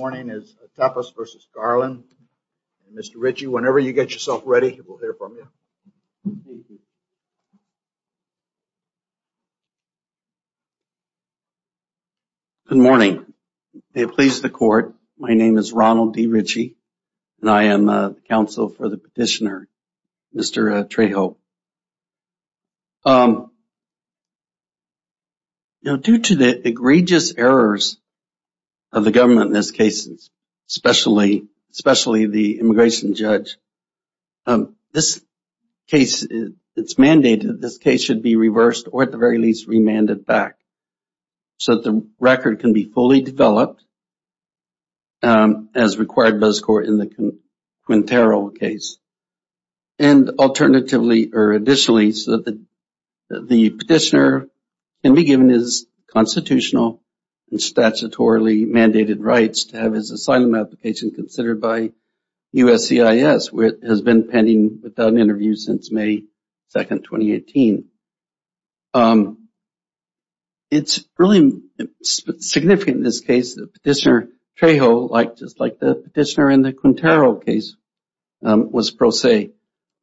Good morning. May it please the court, my name is Ronald D. Ritchie and I am the counsel for the petitioner, Mr. Trejo. Due to the egregious errors of the government in this case, especially the immigration judge, it is mandated that this case should be reversed or at the very least remanded back so that the record can be fully developed as required by this court in the Quintero case. And alternatively, or additionally, so that the petitioner can be given his constitutional and statutorily mandated rights to have his asylum application considered by USCIS, which has been pending without an interview since May 2, 2018. It's really significant in this case that Petitioner Trejo, just like the petitioner in the Quintero case, was pro se.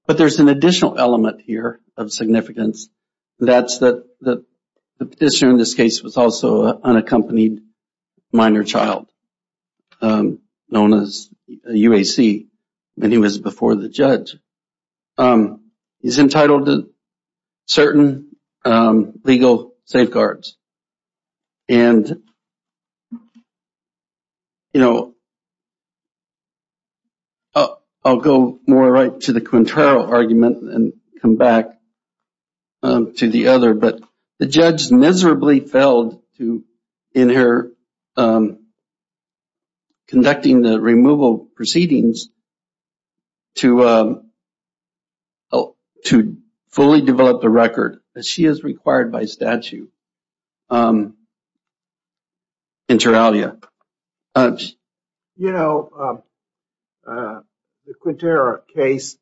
But there's an additional element here of significance, and that's that the petitioner in this case was also an unaccompanied minor child, known as UAC, and he was before the judge. He's entitled to certain legal safeguards. And, you know, I'll go more right to the Quintero argument and come back to the other, but the judge miserably failed in her conducting the removal proceedings to fully develop the record as she is required by statute in Teralia. You know, the Quintero case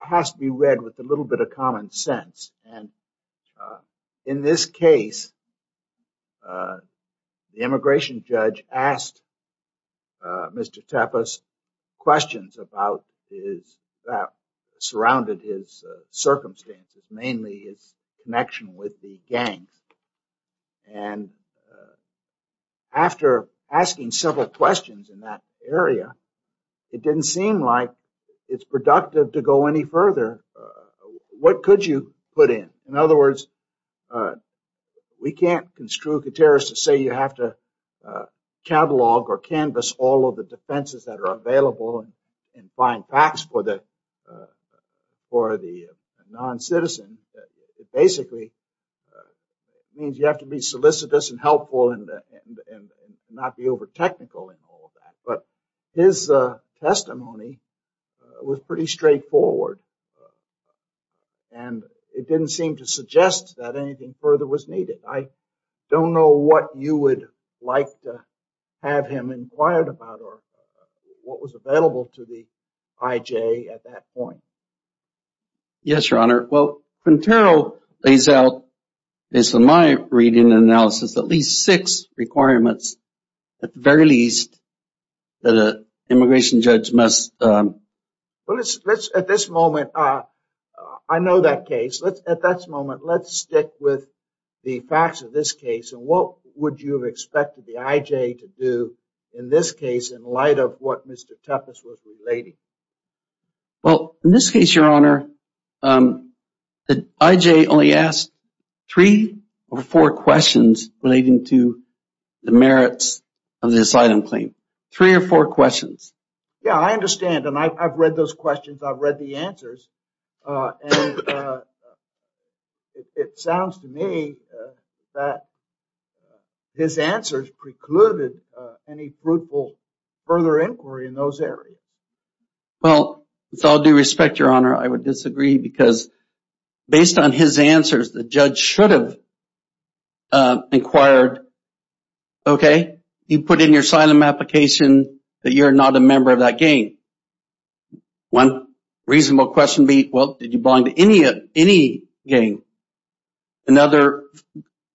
has to be read with a little bit of common sense. And in this case, the immigration judge asked Mr. Tapas questions about his, that surrounded his circumstances, mainly his connection with the gangs. And after asking several questions in that area, it didn't seem like it's productive to go any further. What could you put in? In other words, we can't construe Quinteros to say you have to catalog or canvas all of the defenses that are available and find facts for the non-citizen. It basically means you have to be solicitous and helpful and not be over-technical in all of that. But his testimony was pretty straightforward, and it didn't seem to suggest that anything further was needed. I don't know what you would like to have him inquired about or what was available to the IJ at that point. Yes, Your Honor. Well, Quintero lays out, based on my reading and analysis, at least six requirements, at the very least, that an immigration judge must… At this moment, I know that case. At this moment, let's stick with the facts of this case. And what would you have expected the IJ to do in this case in light of what Mr. Tapas was relating? Well, in this case, Your Honor, the IJ only asked three or four questions relating to the merits of this item claim. Three or four questions. Yeah, I understand. And I've read those questions. I've read the answers. And it sounds to me that his answers precluded any fruitful further inquiry in those areas. Well, with all due respect, Your Honor, I would disagree because based on his answers, the judge should have inquired, okay, you put in your asylum application that you're not a member of that gang. One reasonable question would be, well, did you belong to any gang? Another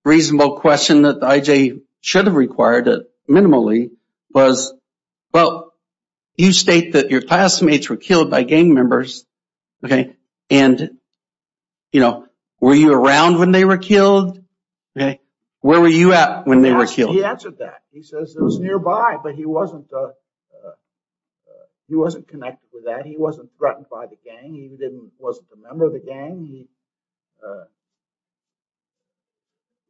reasonable question that the IJ should have required minimally was, well, you state that your classmates were killed by gang members, okay, and, you know, were you around when they were killed? Okay. Where were you at when they were killed? He answered that. He says it was nearby, but he wasn't connected with that. He wasn't threatened by the gang. He didn't – wasn't a member of the gang.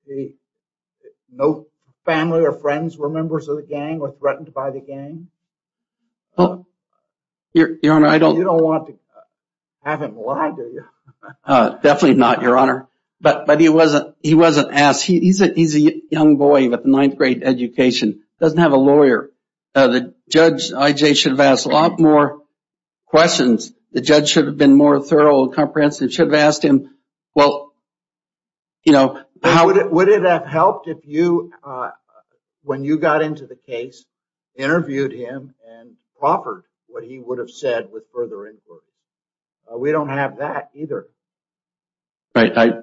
He – no family or friends were members of the gang or threatened by the gang. Well, Your Honor, I don't – You don't want to have him lie, do you? Definitely not, Your Honor. But he wasn't – he wasn't asked. He's a young boy with a ninth-grade education, doesn't have a lawyer. The judge, IJ, should have asked a lot more questions. The judge should have been more thorough and comprehensive, should have asked him, well, you know – Would it have helped if you, when you got into the case, interviewed him and offered what he would have said with further input? We don't have that either. Right.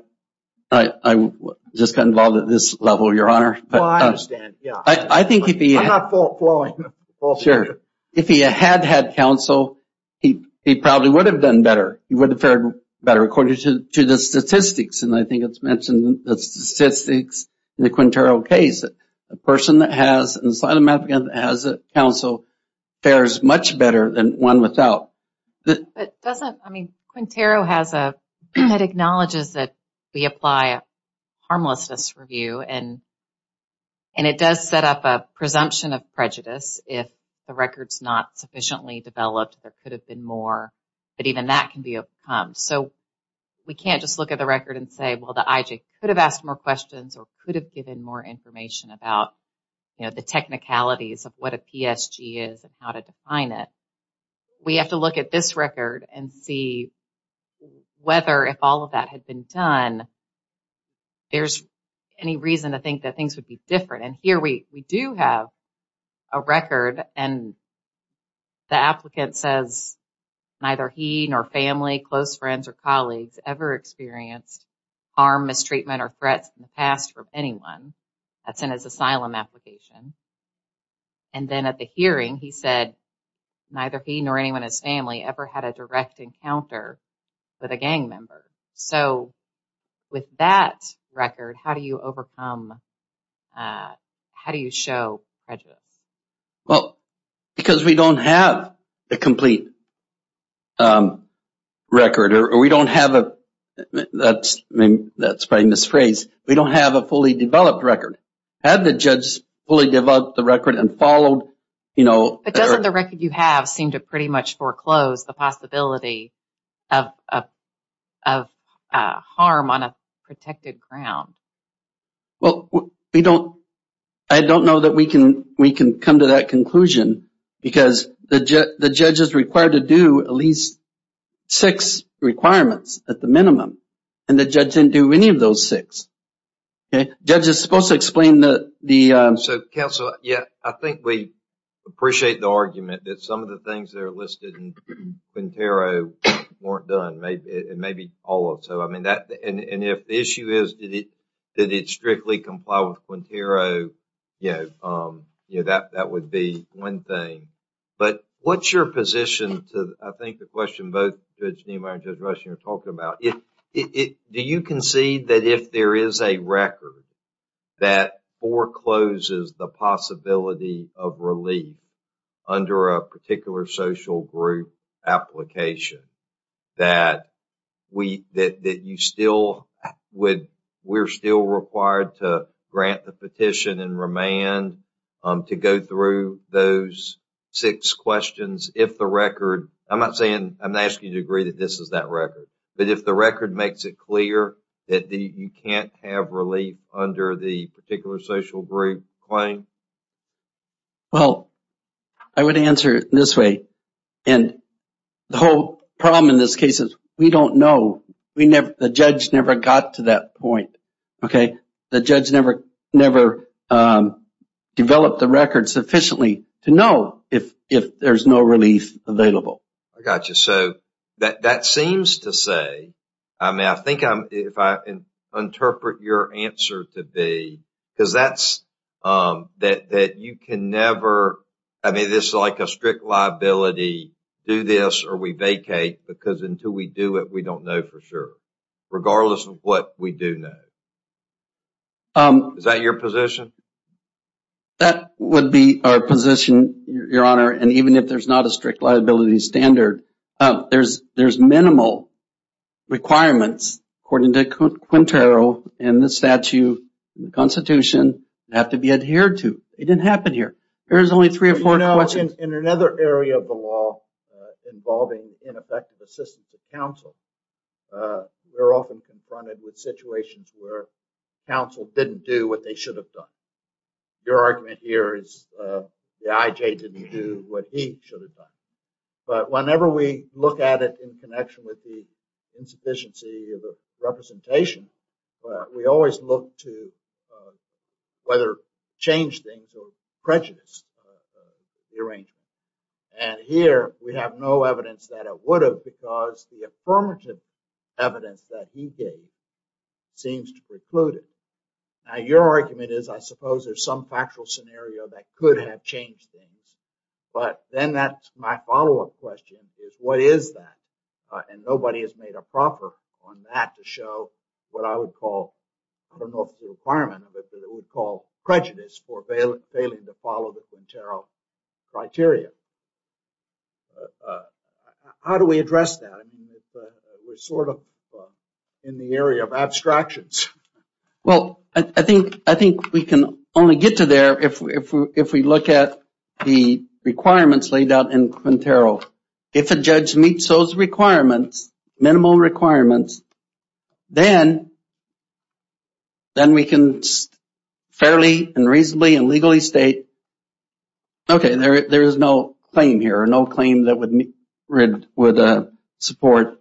I just got involved at this level, Your Honor. Well, I understand. Yeah. I think if he – I'm not fault-flowing. Well, sure. If he had had counsel, he probably would have done better. He would have fared better, according to the statistics. And I think it's mentioned in the statistics in the Quintero case that a person that has an asylum applicant that has counsel fares much better than one without. But doesn't – I mean, Quintero has a – it acknowledges that we apply a harmlessness review, and it does set up a presumption of prejudice if the record's not sufficiently developed, there could have been more, but even that can be overcome. So, we can't just look at the record and say, well, the IJ could have asked more questions or could have given more information about, you know, the technicalities of what a PSG is and how to define it. We have to look at this record and see whether if all of that had been done, there's any reason to think that things would be different. And here we do have a record, and the applicant says neither he nor family, close friends, or colleagues ever experienced harm, mistreatment, or threats in the past from anyone. That's in his asylum application. And then at the hearing, he said neither he nor anyone in his family ever had a direct encounter with a gang member. So, with that record, how do you overcome – how do you show prejudice? Well, because we don't have a complete record, or we don't have a – that's probably a misphrase. We don't have a fully developed record. Had the judge fully developed the record and followed, you know – But doesn't the record you have seem to pretty much foreclose the possibility of harm on a protected ground? Well, we don't – I don't know that we can come to that conclusion because the judge is required to do at least six requirements at the minimum, and the judge didn't do any of those six. Okay? Judge is supposed to explain the – So, counsel, yeah, I think we appreciate the argument that some of the things that are listed in Quintero weren't done, maybe all of them. So, I mean, that – and if the issue is, did it strictly comply with Quintero, you know, that would be one thing. But what's your position to, I think, the question both Judge Niemeyer and Judge Rushing are talking about? Do you concede that if there is a record that forecloses the possibility of relief under a particular social group application, that we – that you still would – we're still required to grant the petition and remand to go through those? Six questions, if the record – I'm not saying – I'm not asking you to agree that this is that record. But if the record makes it clear that you can't have relief under the particular social group claim? Well, I would answer it this way. And the whole problem in this case is we don't know. We never – the judge never got to that point. Okay? The judge never developed the record sufficiently to know if there's no relief available. I got you. So, that seems to say – I mean, I think if I interpret your answer to be – because that's – that you can never – I mean, this is like a strict liability, do this or we vacate, because until we do it, we don't know for sure, regardless of what we do know. Is that your position? That would be our position, Your Honor. And even if there's not a strict liability standard, there's minimal requirements, according to Quintero and the statute, the Constitution, have to be adhered to. It didn't happen here. There's only three or four questions. In another area of the law involving ineffective assistance of counsel, we're often confronted with situations where counsel didn't do what they should have done. Your argument here is the IJ didn't do what he should have done. But whenever we look at it in connection with the insufficiency of the representation, we always look to whether change things or prejudice. And here, we have no evidence that it would have, because the affirmative evidence that he gave seems to preclude it. Now, your argument is, I suppose, there's some factual scenario that could have changed things. But then that's my follow-up question, is what is that? And nobody has made a proper on that to show what I would call – I don't know if the requirement of it, but it would call prejudice for failing to follow the Quintero criteria. How do we address that? We're sort of in the area of abstractions. I think we can only get to there if we look at the requirements laid out in Quintero. If a judge meets those requirements, minimal requirements, then we can fairly and reasonably and legally state, okay, there is no claim here or no claim that would support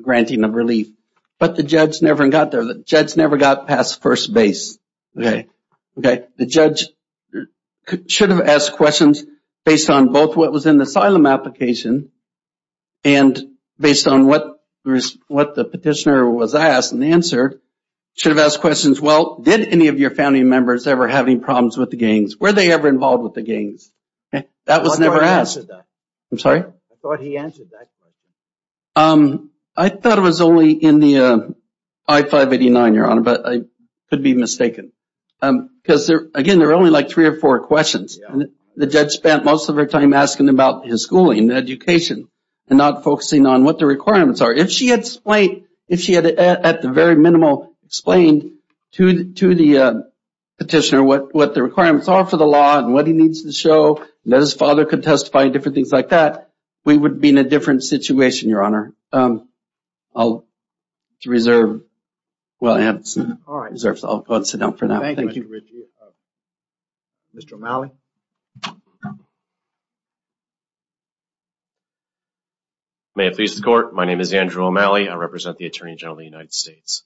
granting of relief. But the judge never got there. The judge never got past first base, okay? The judge should have asked questions based on both what was in the asylum application and based on what the petitioner was asked and answered, should have asked questions, well, did any of your family members ever have any problems with the gangs? Were they ever involved with the gangs? That was never asked. I'm sorry? I thought he answered that question. I thought it was only in the I-589, Your Honor, but I could be mistaken. Because, again, there are only like three or four questions. The judge spent most of her time asking about his schooling, education, and not focusing on what the requirements are. If she had at the very minimal explained to the petitioner what the requirements are for the law and what he needs to show and that his father could testify and different things like that, we would be in a different situation, Your Honor. I'll reserve. I'll go and sit down for now. Thank you. Mr. O'Malley? May it please the Court, my name is Andrew O'Malley. I represent the Attorney General of the United States.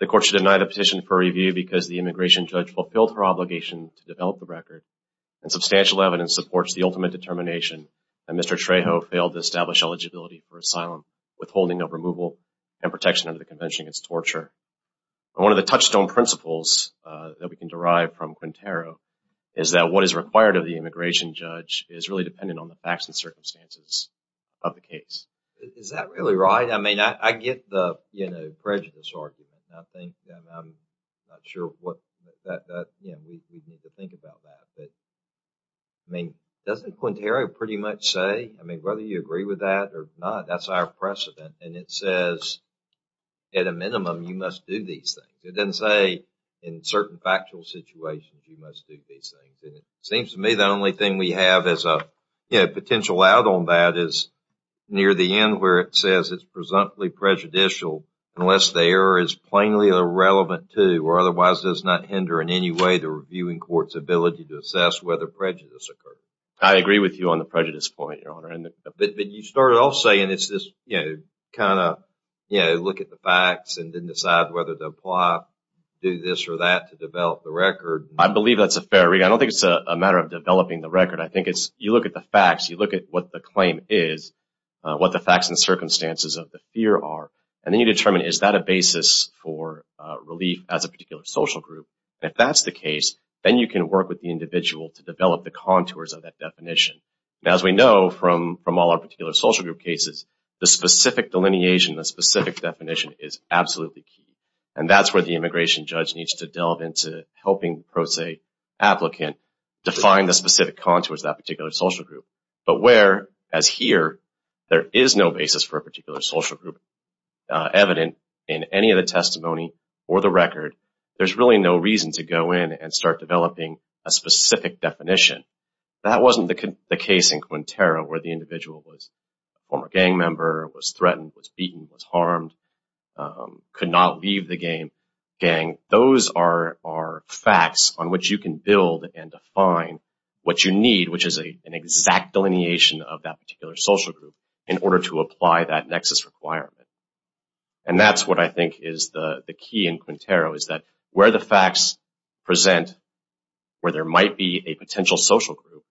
The Court should deny the petition for review because the immigration judge fulfilled her obligation to develop the record and substantial evidence supports the ultimate determination that Mr. Trejo failed to establish eligibility for asylum, withholding of removal, and protection under the Convention against Torture. One of the touchstone principles that we can derive from Quintero is that what is required of the immigration judge is really dependent on the facts and circumstances of the case. Is that really right? I get the prejudice argument. I'm not sure what we need to think about that. Doesn't Quintero pretty much say, whether you agree with that or not, that's our precedent and it says at a minimum you must do these things. It doesn't say in certain factual situations you must do these things. It seems to me the only thing we have as a potential out on that is near the end where it says it's presumptively prejudicial unless the error is plainly irrelevant to or otherwise does not hinder in any way the reviewing court's ability to assess whether prejudice occurred. I agree with you on the prejudice point, Your Honor. But you started off saying it's this kind of look at the facts and then decide whether to apply, do this or that to develop the record. I believe that's a fair read. I don't think it's a matter of developing the record. I think it's you look at the facts, you look at what the claim is, what the facts and circumstances of the fear are, and then you determine is that a basis for relief as a particular social group. If that's the case, then you can work with the individual to develop the contours of that definition. As we know from all our particular social group cases, the specific delineation, the specific definition is absolutely key. And that's where the immigration judge needs to delve into helping the pro se applicant define the specific contours of that particular social group. But where, as here, there is no basis for a particular social group evident in any of the testimony or the record, there's really no reason to go in and start developing a specific definition. That wasn't the case in Quintero where the individual was a former gang member, was threatened, was beaten, was harmed, could not leave the gang. Those are facts on which you can build and define what you need, which is an exact delineation of that particular social group, in order to apply that nexus requirement. And that's what I think is the key in Quintero, is that where the facts present where there might be a potential social group,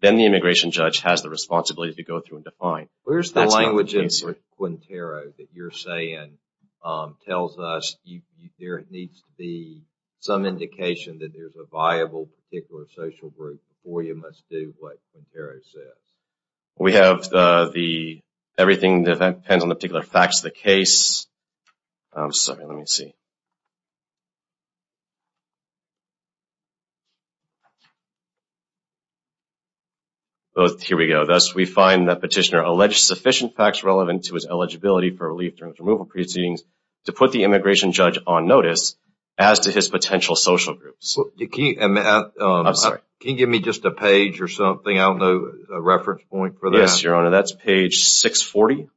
then the immigration judge has the responsibility to go through and define. Where's the language in Quintero that you're saying tells us there needs to be some indication that there's a viable particular social group before you must do what Quintero says? We have everything that depends on the particular facts of the case. Here we go. Thus, we find that petitioner alleged sufficient facts relevant to his eligibility for relief during his removal proceedings to put the immigration judge on notice as to his potential social groups. Can you give me just a page or something? I don't know a reference point for that. Yes, Your Honor. That's page 640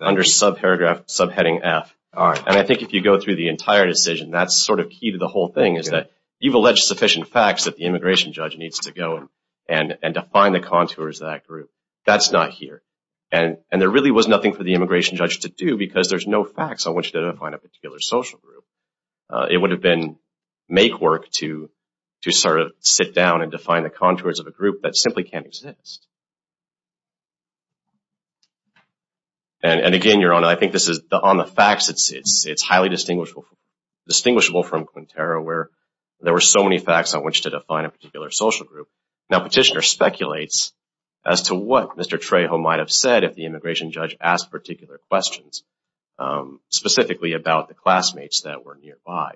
under subheading F. All right. And I think if you go through the entire decision, that's sort of key to the whole thing, is that you've alleged sufficient facts that the immigration judge needs to go and define the contours of that group. That's not here. And there really was nothing for the immigration judge to do because there's no facts on which to define a particular social group. It would have been make work to sort of sit down and define the contours of a group that simply can't exist. And again, Your Honor, I think on the facts it's highly distinguishable from Quintero where there were so many facts on which to define a particular social group. Now, petitioner speculates as to what Mr. Trejo might have said if the immigration judge asked particular questions, specifically about the classmates that were nearby.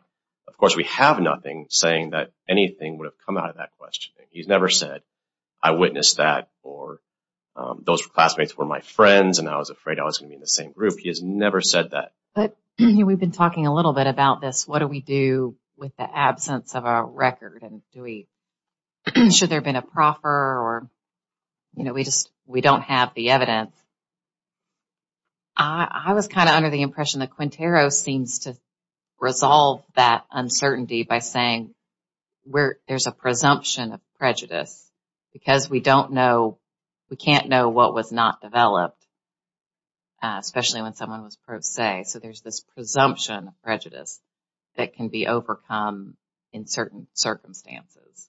Of course, we have nothing saying that anything would have come out of that question. He's never said, I witnessed that or those classmates were my friends and I was afraid I was going to be in the same group. He has never said that. But we've been talking a little bit about this. What do we do with the absence of a record? And should there have been a proffer? Or, you know, we just we don't have the evidence. I was kind of under the impression that Quintero seems to resolve that uncertainty by saying where there's a presumption of prejudice because we don't know. We can't know what was not developed, especially when someone was pro se. So there's this presumption of prejudice that can be overcome in certain circumstances.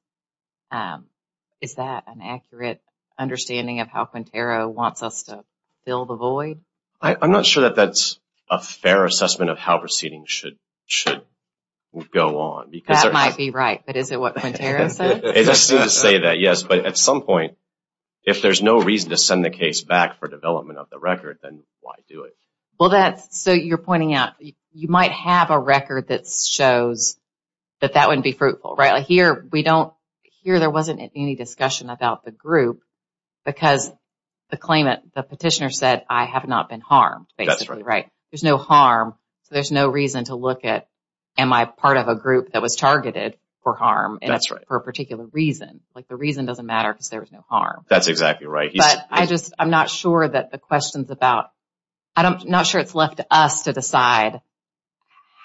Is that an accurate understanding of how Quintero wants us to fill the void? I'm not sure that that's a fair assessment of how proceedings should go on. That might be right. But is it what Quintero says? It is to say that, yes. But at some point, if there's no reason to send the case back for development of the record, then why do it? Well, that's so you're pointing out you might have a record that shows that that wouldn't be fruitful. Right here. We don't hear there wasn't any discussion about the group because the claimant, the petitioner said, I have not been harmed. That's right. There's no harm. There's no reason to look at. Am I part of a group that was targeted for harm? That's right. For a particular reason. Like the reason doesn't matter because there was no harm. That's exactly right. But I just, I'm not sure that the questions about, I'm not sure it's left to us to decide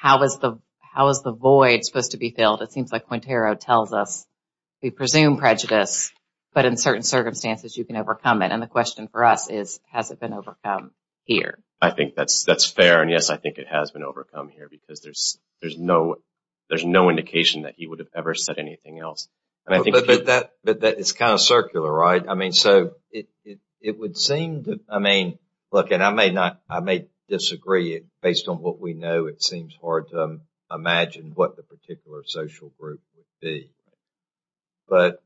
how is the void supposed to be filled. It seems like Quintero tells us we presume prejudice, but in certain circumstances you can overcome it. And the question for us is, has it been overcome here? I think that's fair. And, yes, I think it has been overcome here because there's no indication that he would have ever said anything else. But that is kind of circular, right? I mean, so it would seem, I mean, look, and I may not, I may disagree based on what we know. It seems hard to imagine what the particular social group would be. But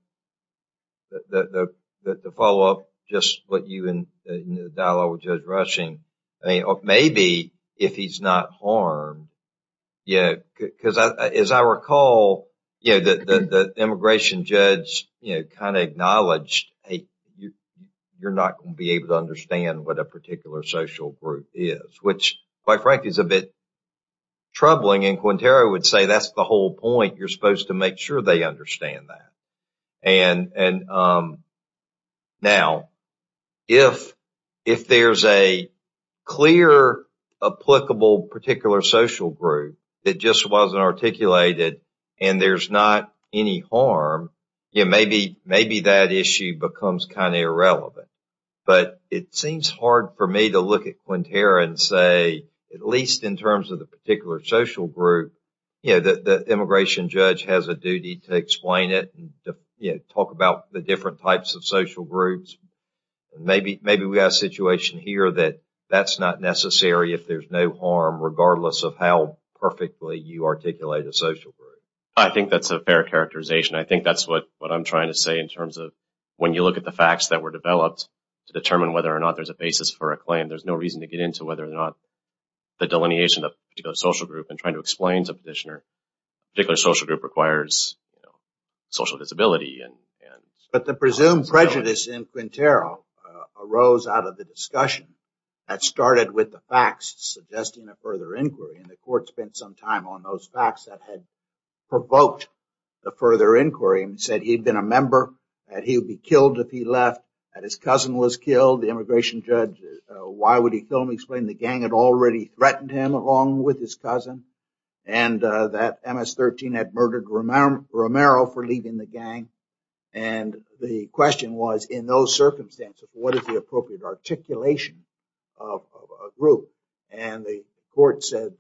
the follow-up, just what you, in the dialogue with Judge Rushing, maybe if he's not harmed, yeah, because as I recall, the immigration judge kind of acknowledged, hey, you're not going to be able to understand what a particular social group is, which, quite frankly, is a bit troubling. And Quintero would say that's the whole point. You're supposed to make sure they understand that. And now, if there's a clear, applicable particular social group that just wasn't articulated and there's not any harm, maybe that issue becomes kind of irrelevant. But it seems hard for me to look at Quintero and say, at least in terms of the particular social group, you know, the immigration judge has a duty to explain it and talk about the different types of social groups. Maybe we have a situation here that that's not necessary if there's no harm, regardless of how perfectly you articulate a social group. I think that's a fair characterization. I think that's what I'm trying to say in terms of when you look at the facts that were developed to determine whether or not there's a basis for a claim, and there's no reason to get into whether or not the delineation of a particular social group and trying to explain to a petitioner a particular social group requires social visibility. But the presumed prejudice in Quintero arose out of the discussion that started with the facts suggesting a further inquiry. And the court spent some time on those facts that had provoked the further inquiry and said he had been a member, that he would be killed if he left, that his cousin was killed. The immigration judge, why would he kill him, explained the gang had already threatened him along with his cousin, and that MS-13 had murdered Romero for leaving the gang. And the question was, in those circumstances, what is the appropriate articulation of a group? And the court said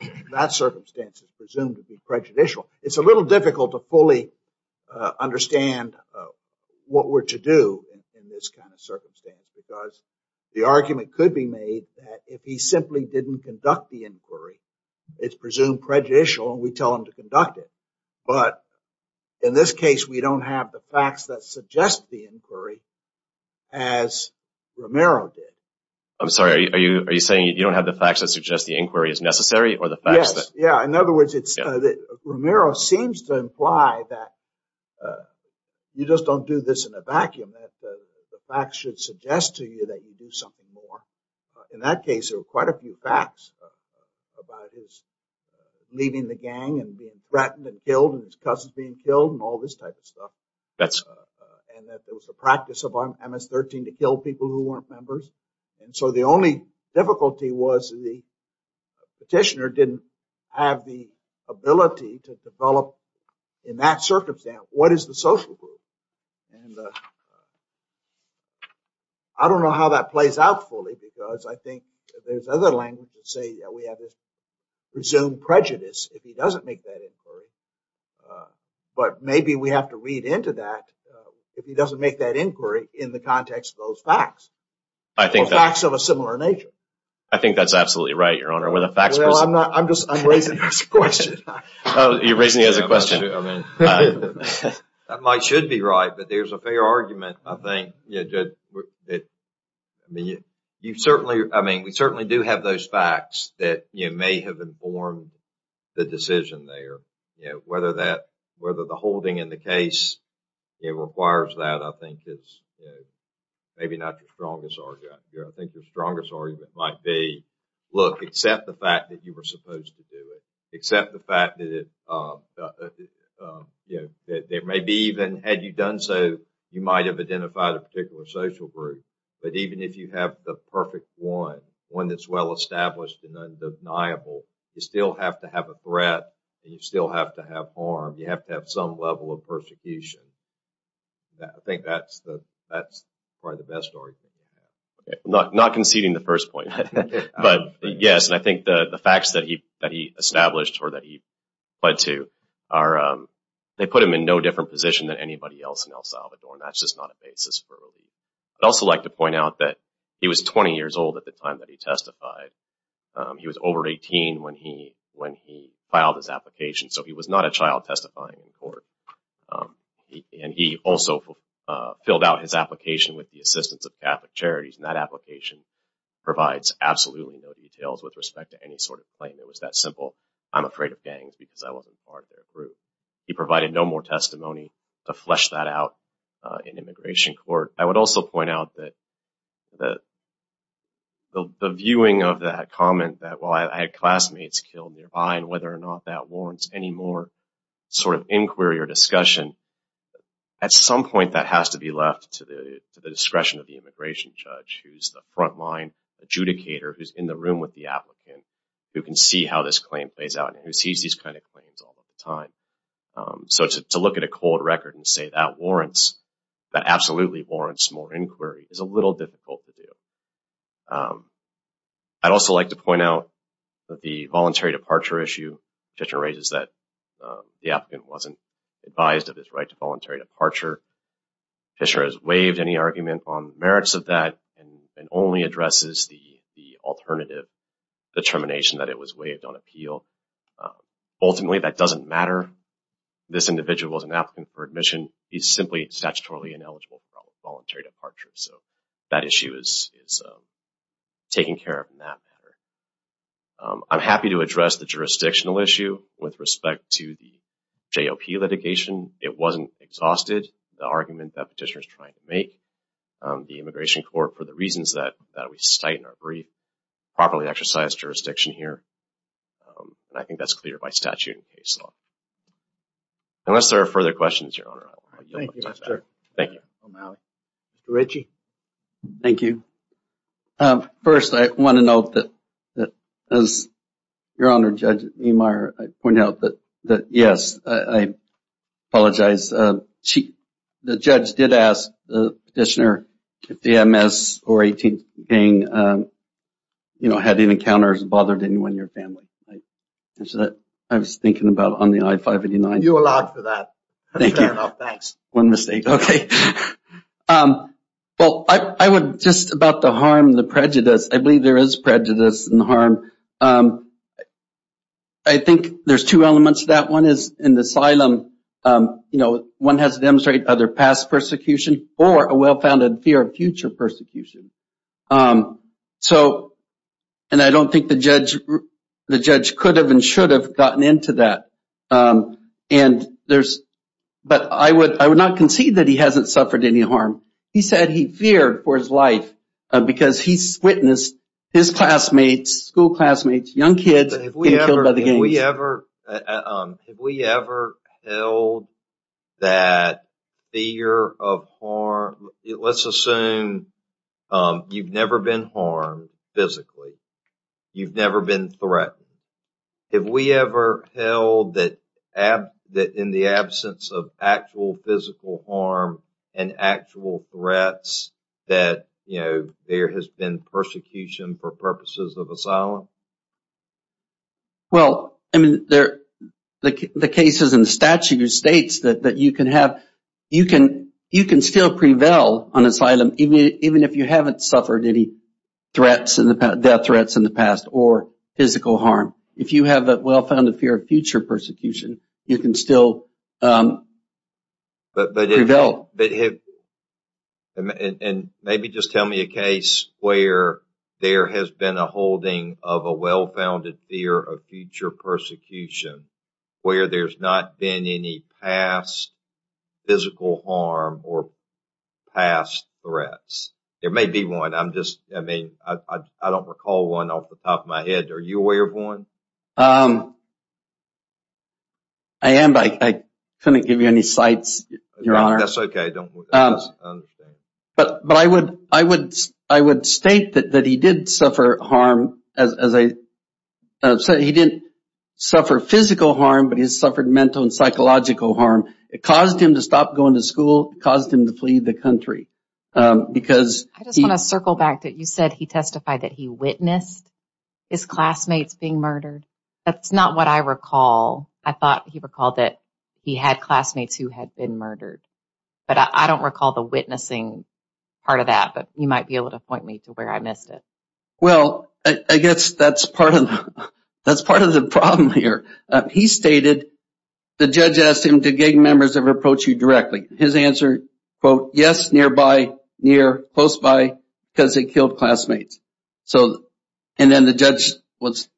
that circumstance is presumed to be prejudicial. It's a little difficult to fully understand what were to do in this kind of circumstance, because the argument could be made that if he simply didn't conduct the inquiry, it's presumed prejudicial and we tell him to conduct it. But in this case, we don't have the facts that suggest the inquiry as Romero did. I'm sorry, are you saying you don't have the facts that suggest the inquiry is necessary or the facts that… Romero seems to imply that you just don't do this in a vacuum, that the facts should suggest to you that you do something more. In that case, there were quite a few facts about his leaving the gang and being threatened and killed and his cousin being killed and all this type of stuff. And that there was a practice of MS-13 to kill people who weren't members. And so the only difficulty was the petitioner didn't have the ability to develop in that circumstance, what is the social group? And I don't know how that plays out fully, because I think there's other language to say we have this presumed prejudice if he doesn't make that inquiry. But maybe we have to read into that if he doesn't make that inquiry in the context of those facts. I think that… Or facts of a similar nature. I think that's absolutely right, Your Honor. Well, I'm not, I'm just, I'm raising this question. Oh, you're raising it as a question. Mike should be right, but there's a fair argument, I think. You certainly, I mean, we certainly do have those facts that may have informed the decision there. Whether that, whether the holding in the case requires that, I think is maybe not the strongest argument. I think the strongest argument might be, look, accept the fact that you were supposed to do it. Accept the fact that it, you know, there may be even, had you done so, you might have identified a particular social group. But even if you have the perfect one, one that's well established and undeniable, you still have to have a threat and you still have to have harm. You have to have some level of persecution. I think that's the, that's probably the best argument. Not conceding the first point, but yes, and I think the facts that he, that he established or that he pled to are, they put him in no different position than anybody else in El Salvador, and that's just not a basis for relief. I'd also like to point out that he was 20 years old at the time that he testified. He was over 18 when he, when he filed his application, so he was not a child testifying in court. And he also filled out his application with the assistance of Catholic Charities, and that application provides absolutely no details with respect to any sort of claim. It was that simple, I'm afraid of gangs because I wasn't part of their group. He provided no more testimony to flesh that out in immigration court. I would also point out that the, the viewing of that comment that, well, I had classmates killed nearby, and whether or not that warrants any more sort of inquiry or discussion, at some point that has to be left to the, to the discretion of the immigration judge, who's the frontline adjudicator who's in the room with the applicant, who can see how this claim plays out and who sees these kind of claims all the time. So to look at a cold record and say that warrants, that absolutely warrants more inquiry is a little difficult to do. I'd also like to point out that the voluntary departure issue, Fisher raises that the applicant wasn't advised of his right to voluntary departure. Fisher has waived any argument on merits of that and only addresses the, the alternative determination that it was waived on appeal. Ultimately, that doesn't matter. This individual is an applicant for admission. He's simply statutorily ineligible for voluntary departure. So that issue is, is taken care of in that matter. I'm happy to address the jurisdictional issue with respect to the JLP litigation. It wasn't exhausted, the argument that petitioner is trying to make. The Immigration Court, for the reasons that, that we cite in our brief, properly exercised jurisdiction here. And I think that's clear by statute and case law. Unless there are further questions, Your Honor, I want you to let me know. Thank you. Mr. Ritchie. Thank you. First, I want to note that, that as Your Honor, Judge Niemeyer, I pointed out that, that yes, I apologize. The judge did ask the petitioner if the MS or 18th gang, you know, had any encounters and bothered anyone in your family. I was thinking about it on the I-589. You allowed for that. Thank you. Fair enough, thanks. One mistake, okay. Well, I would, just about the harm, the prejudice, I believe there is prejudice and harm. I think there's two elements to that. One is in the asylum, you know, one has to demonstrate either past persecution or a well-founded fear of future persecution. So, and I don't think the judge, the judge could have and should have gotten into that. And there's, but I would not concede that he hasn't suffered any harm. He said he feared for his life because he's witnessed his classmates, school classmates, young kids being killed by the gangs. Have we ever held that fear of harm? Let's assume you've never been harmed physically. You've never been threatened. Have we ever held that in the absence of actual physical harm and actual threats that, you know, there has been persecution for purposes of asylum? Well, I mean, the cases in the statute states that you can have, you can still prevail on asylum even if you haven't suffered any threats, death threats in the past or physical harm. If you have a well-founded fear of future persecution, you can still prevail. And maybe just tell me a case where there has been a holding of a well-founded fear of future persecution, where there's not been any past physical harm or past threats. There may be one. I'm just, I mean, I don't recall one off the top of my head. Are you aware of one? I am, but I couldn't give you any sites, Your Honor. That's okay. But I would state that he did suffer harm. As I said, he didn't suffer physical harm, but he's suffered mental and psychological harm. It caused him to stop going to school. It caused him to flee the country. I just want to circle back. You said he testified that he witnessed his classmates being murdered. That's not what I recall. I thought he recalled that he had classmates who had been murdered. But I don't recall the witnessing part of that, but you might be able to point me to where I missed it. Well, I guess that's part of the problem here. He stated, the judge asked him, did gang members ever approach you directly? His answer, quote, yes, nearby, near, close by, because they killed classmates. So, and then the judge was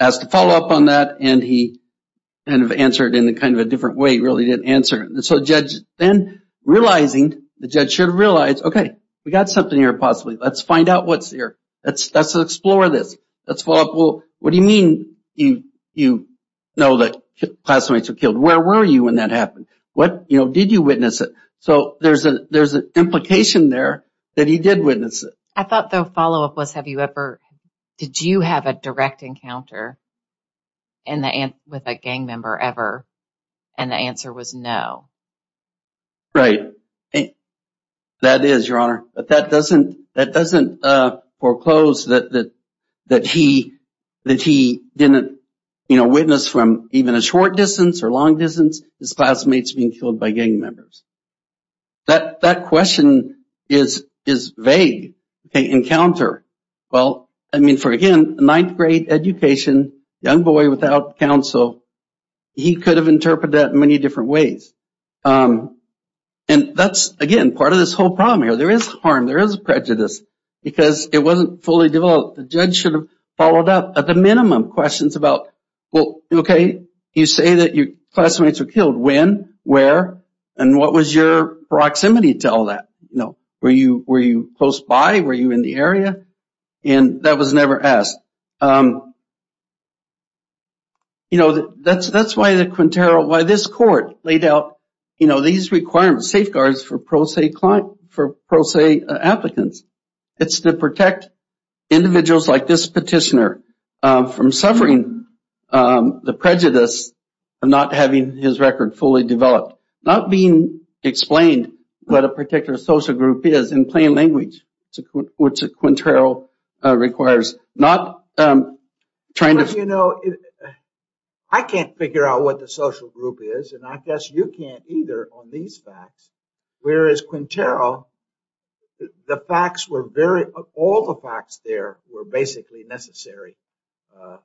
asked to follow up on that, and he kind of answered in kind of a different way. He really didn't answer. So the judge then realizing, the judge should have realized, okay, we got something here possibly. Let's find out what's here. Let's explore this. Let's follow up. Well, what do you mean you know that classmates were killed? Where were you when that happened? He didn't witness it. So there's an implication there that he did witness it. I thought the follow up was, have you ever, did you have a direct encounter with a gang member ever? And the answer was no. Right. That is, Your Honor. But that doesn't foreclose that he didn't witness from even a short distance or long distance his classmates being killed by gang members. That question is vague. Okay, encounter. Well, I mean, for again, ninth grade education, young boy without counsel, he could have interpreted that in many different ways. And that's, again, part of this whole problem here. There is harm. There is prejudice. Because it wasn't fully developed. The judge should have followed up at the minimum questions about, well, okay, you say that your classmates were killed. When? Where? And what was your proximity to all that? Were you close by? Were you in the area? And that was never asked. You know, that's why the Quintero, why this court laid out these requirements, safeguards for pro se applicants. It's to protect individuals like this petitioner from suffering the prejudice of not having his record fully developed. Not being explained what a particular social group is in plain language, which a Quintero requires. Not trying to... You know, I can't figure out what the social group is. And I guess you can't either on these facts. Whereas Quintero, the facts were very, all the facts there were basically necessary. I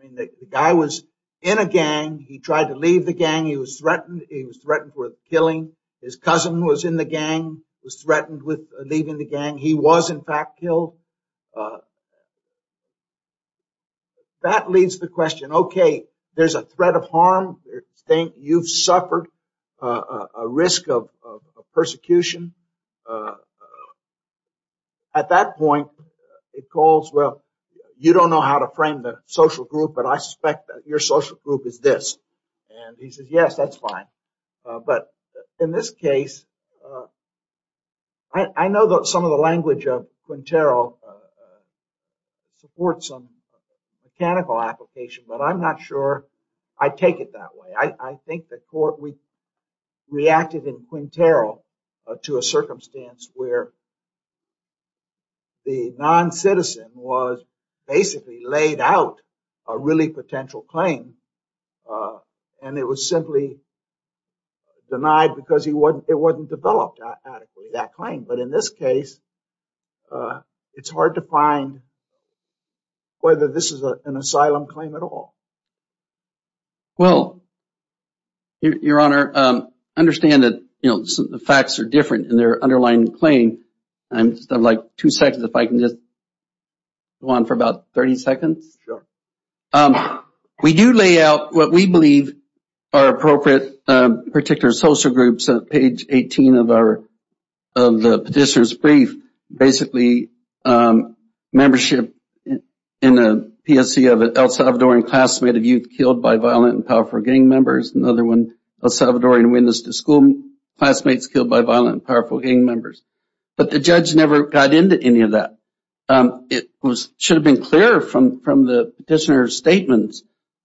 mean, the guy was in a gang. He tried to leave the gang. He was threatened. He was threatened with killing. His cousin was in the gang, was threatened with leaving the gang. He was in fact killed. That leads to the question, okay, there's a threat of harm. You've suffered a risk of persecution. At that point, it calls, well, you don't know how to frame the social group, but I suspect that your social group is this. And he says, yes, that's fine. But in this case, I know that some of the language of Quintero supports some mechanical application, but I'm not sure I take it that way. I think that we reacted in Quintero to a circumstance where the non-citizen was basically laid out a really potential claim, and it was simply denied because it wasn't developed adequately, that claim. But in this case, it's hard to find whether this is an asylum claim at all. Well, Your Honor, I understand that the facts are different in their underlying claim. I just have like two seconds if I can just go on for about 30 seconds. Sure. We do lay out what we believe are appropriate particular social groups on page 18 of the petitioner's brief. Basically, membership in the PSE of an El Salvadorian classmate of youth killed by violent and powerful gang members. Another one, El Salvadorian witness to school classmates killed by violent and powerful gang members. But the judge never got into any of that. It should have been clear from the petitioner's statements,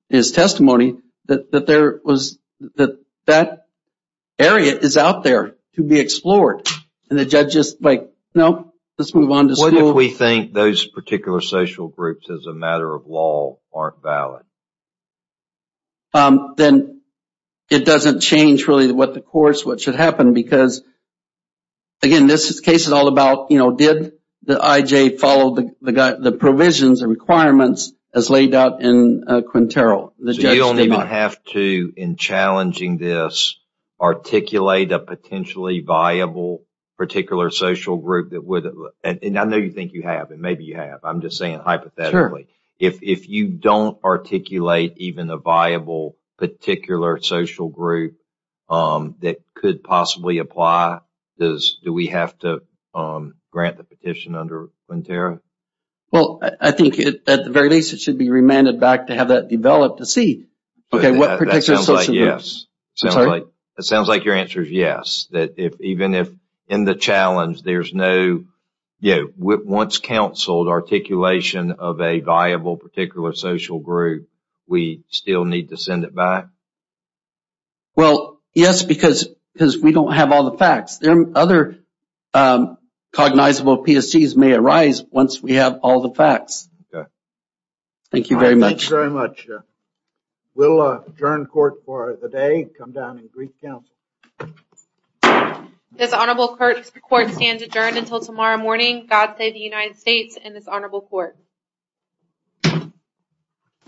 his testimony, that that area is out there to be explored. And the judge is like, no, let's move on to school. What if we think those particular social groups as a matter of law aren't valid? Then, it doesn't change really what the courts, what should happen because again, this case is all about, did the IJ follow the provisions and requirements as laid out in Quintero? So you don't even have to, in challenging this, articulate a potentially viable particular social group and I know you think you have and maybe you have. I'm just saying hypothetically. If you don't articulate even a viable particular social group that could possibly apply, do we have to grant the petition under Quintero? Well, I think at the very least it should be remanded back to have that developed to see what particular social groups. It sounds like your answer is yes. Even if in the challenge there's no, once counseled, articulation of a viable particular social group, we still need to send it back? Well, yes, because we don't have all the facts. But I'm sure cognizable PSGs may arise once we have all the facts. Okay. Thank you very much. Thank you very much. We'll adjourn court for the day and come down and brief counsel. This honorable court stands adjourned until tomorrow morning. God save the United States and this honorable court.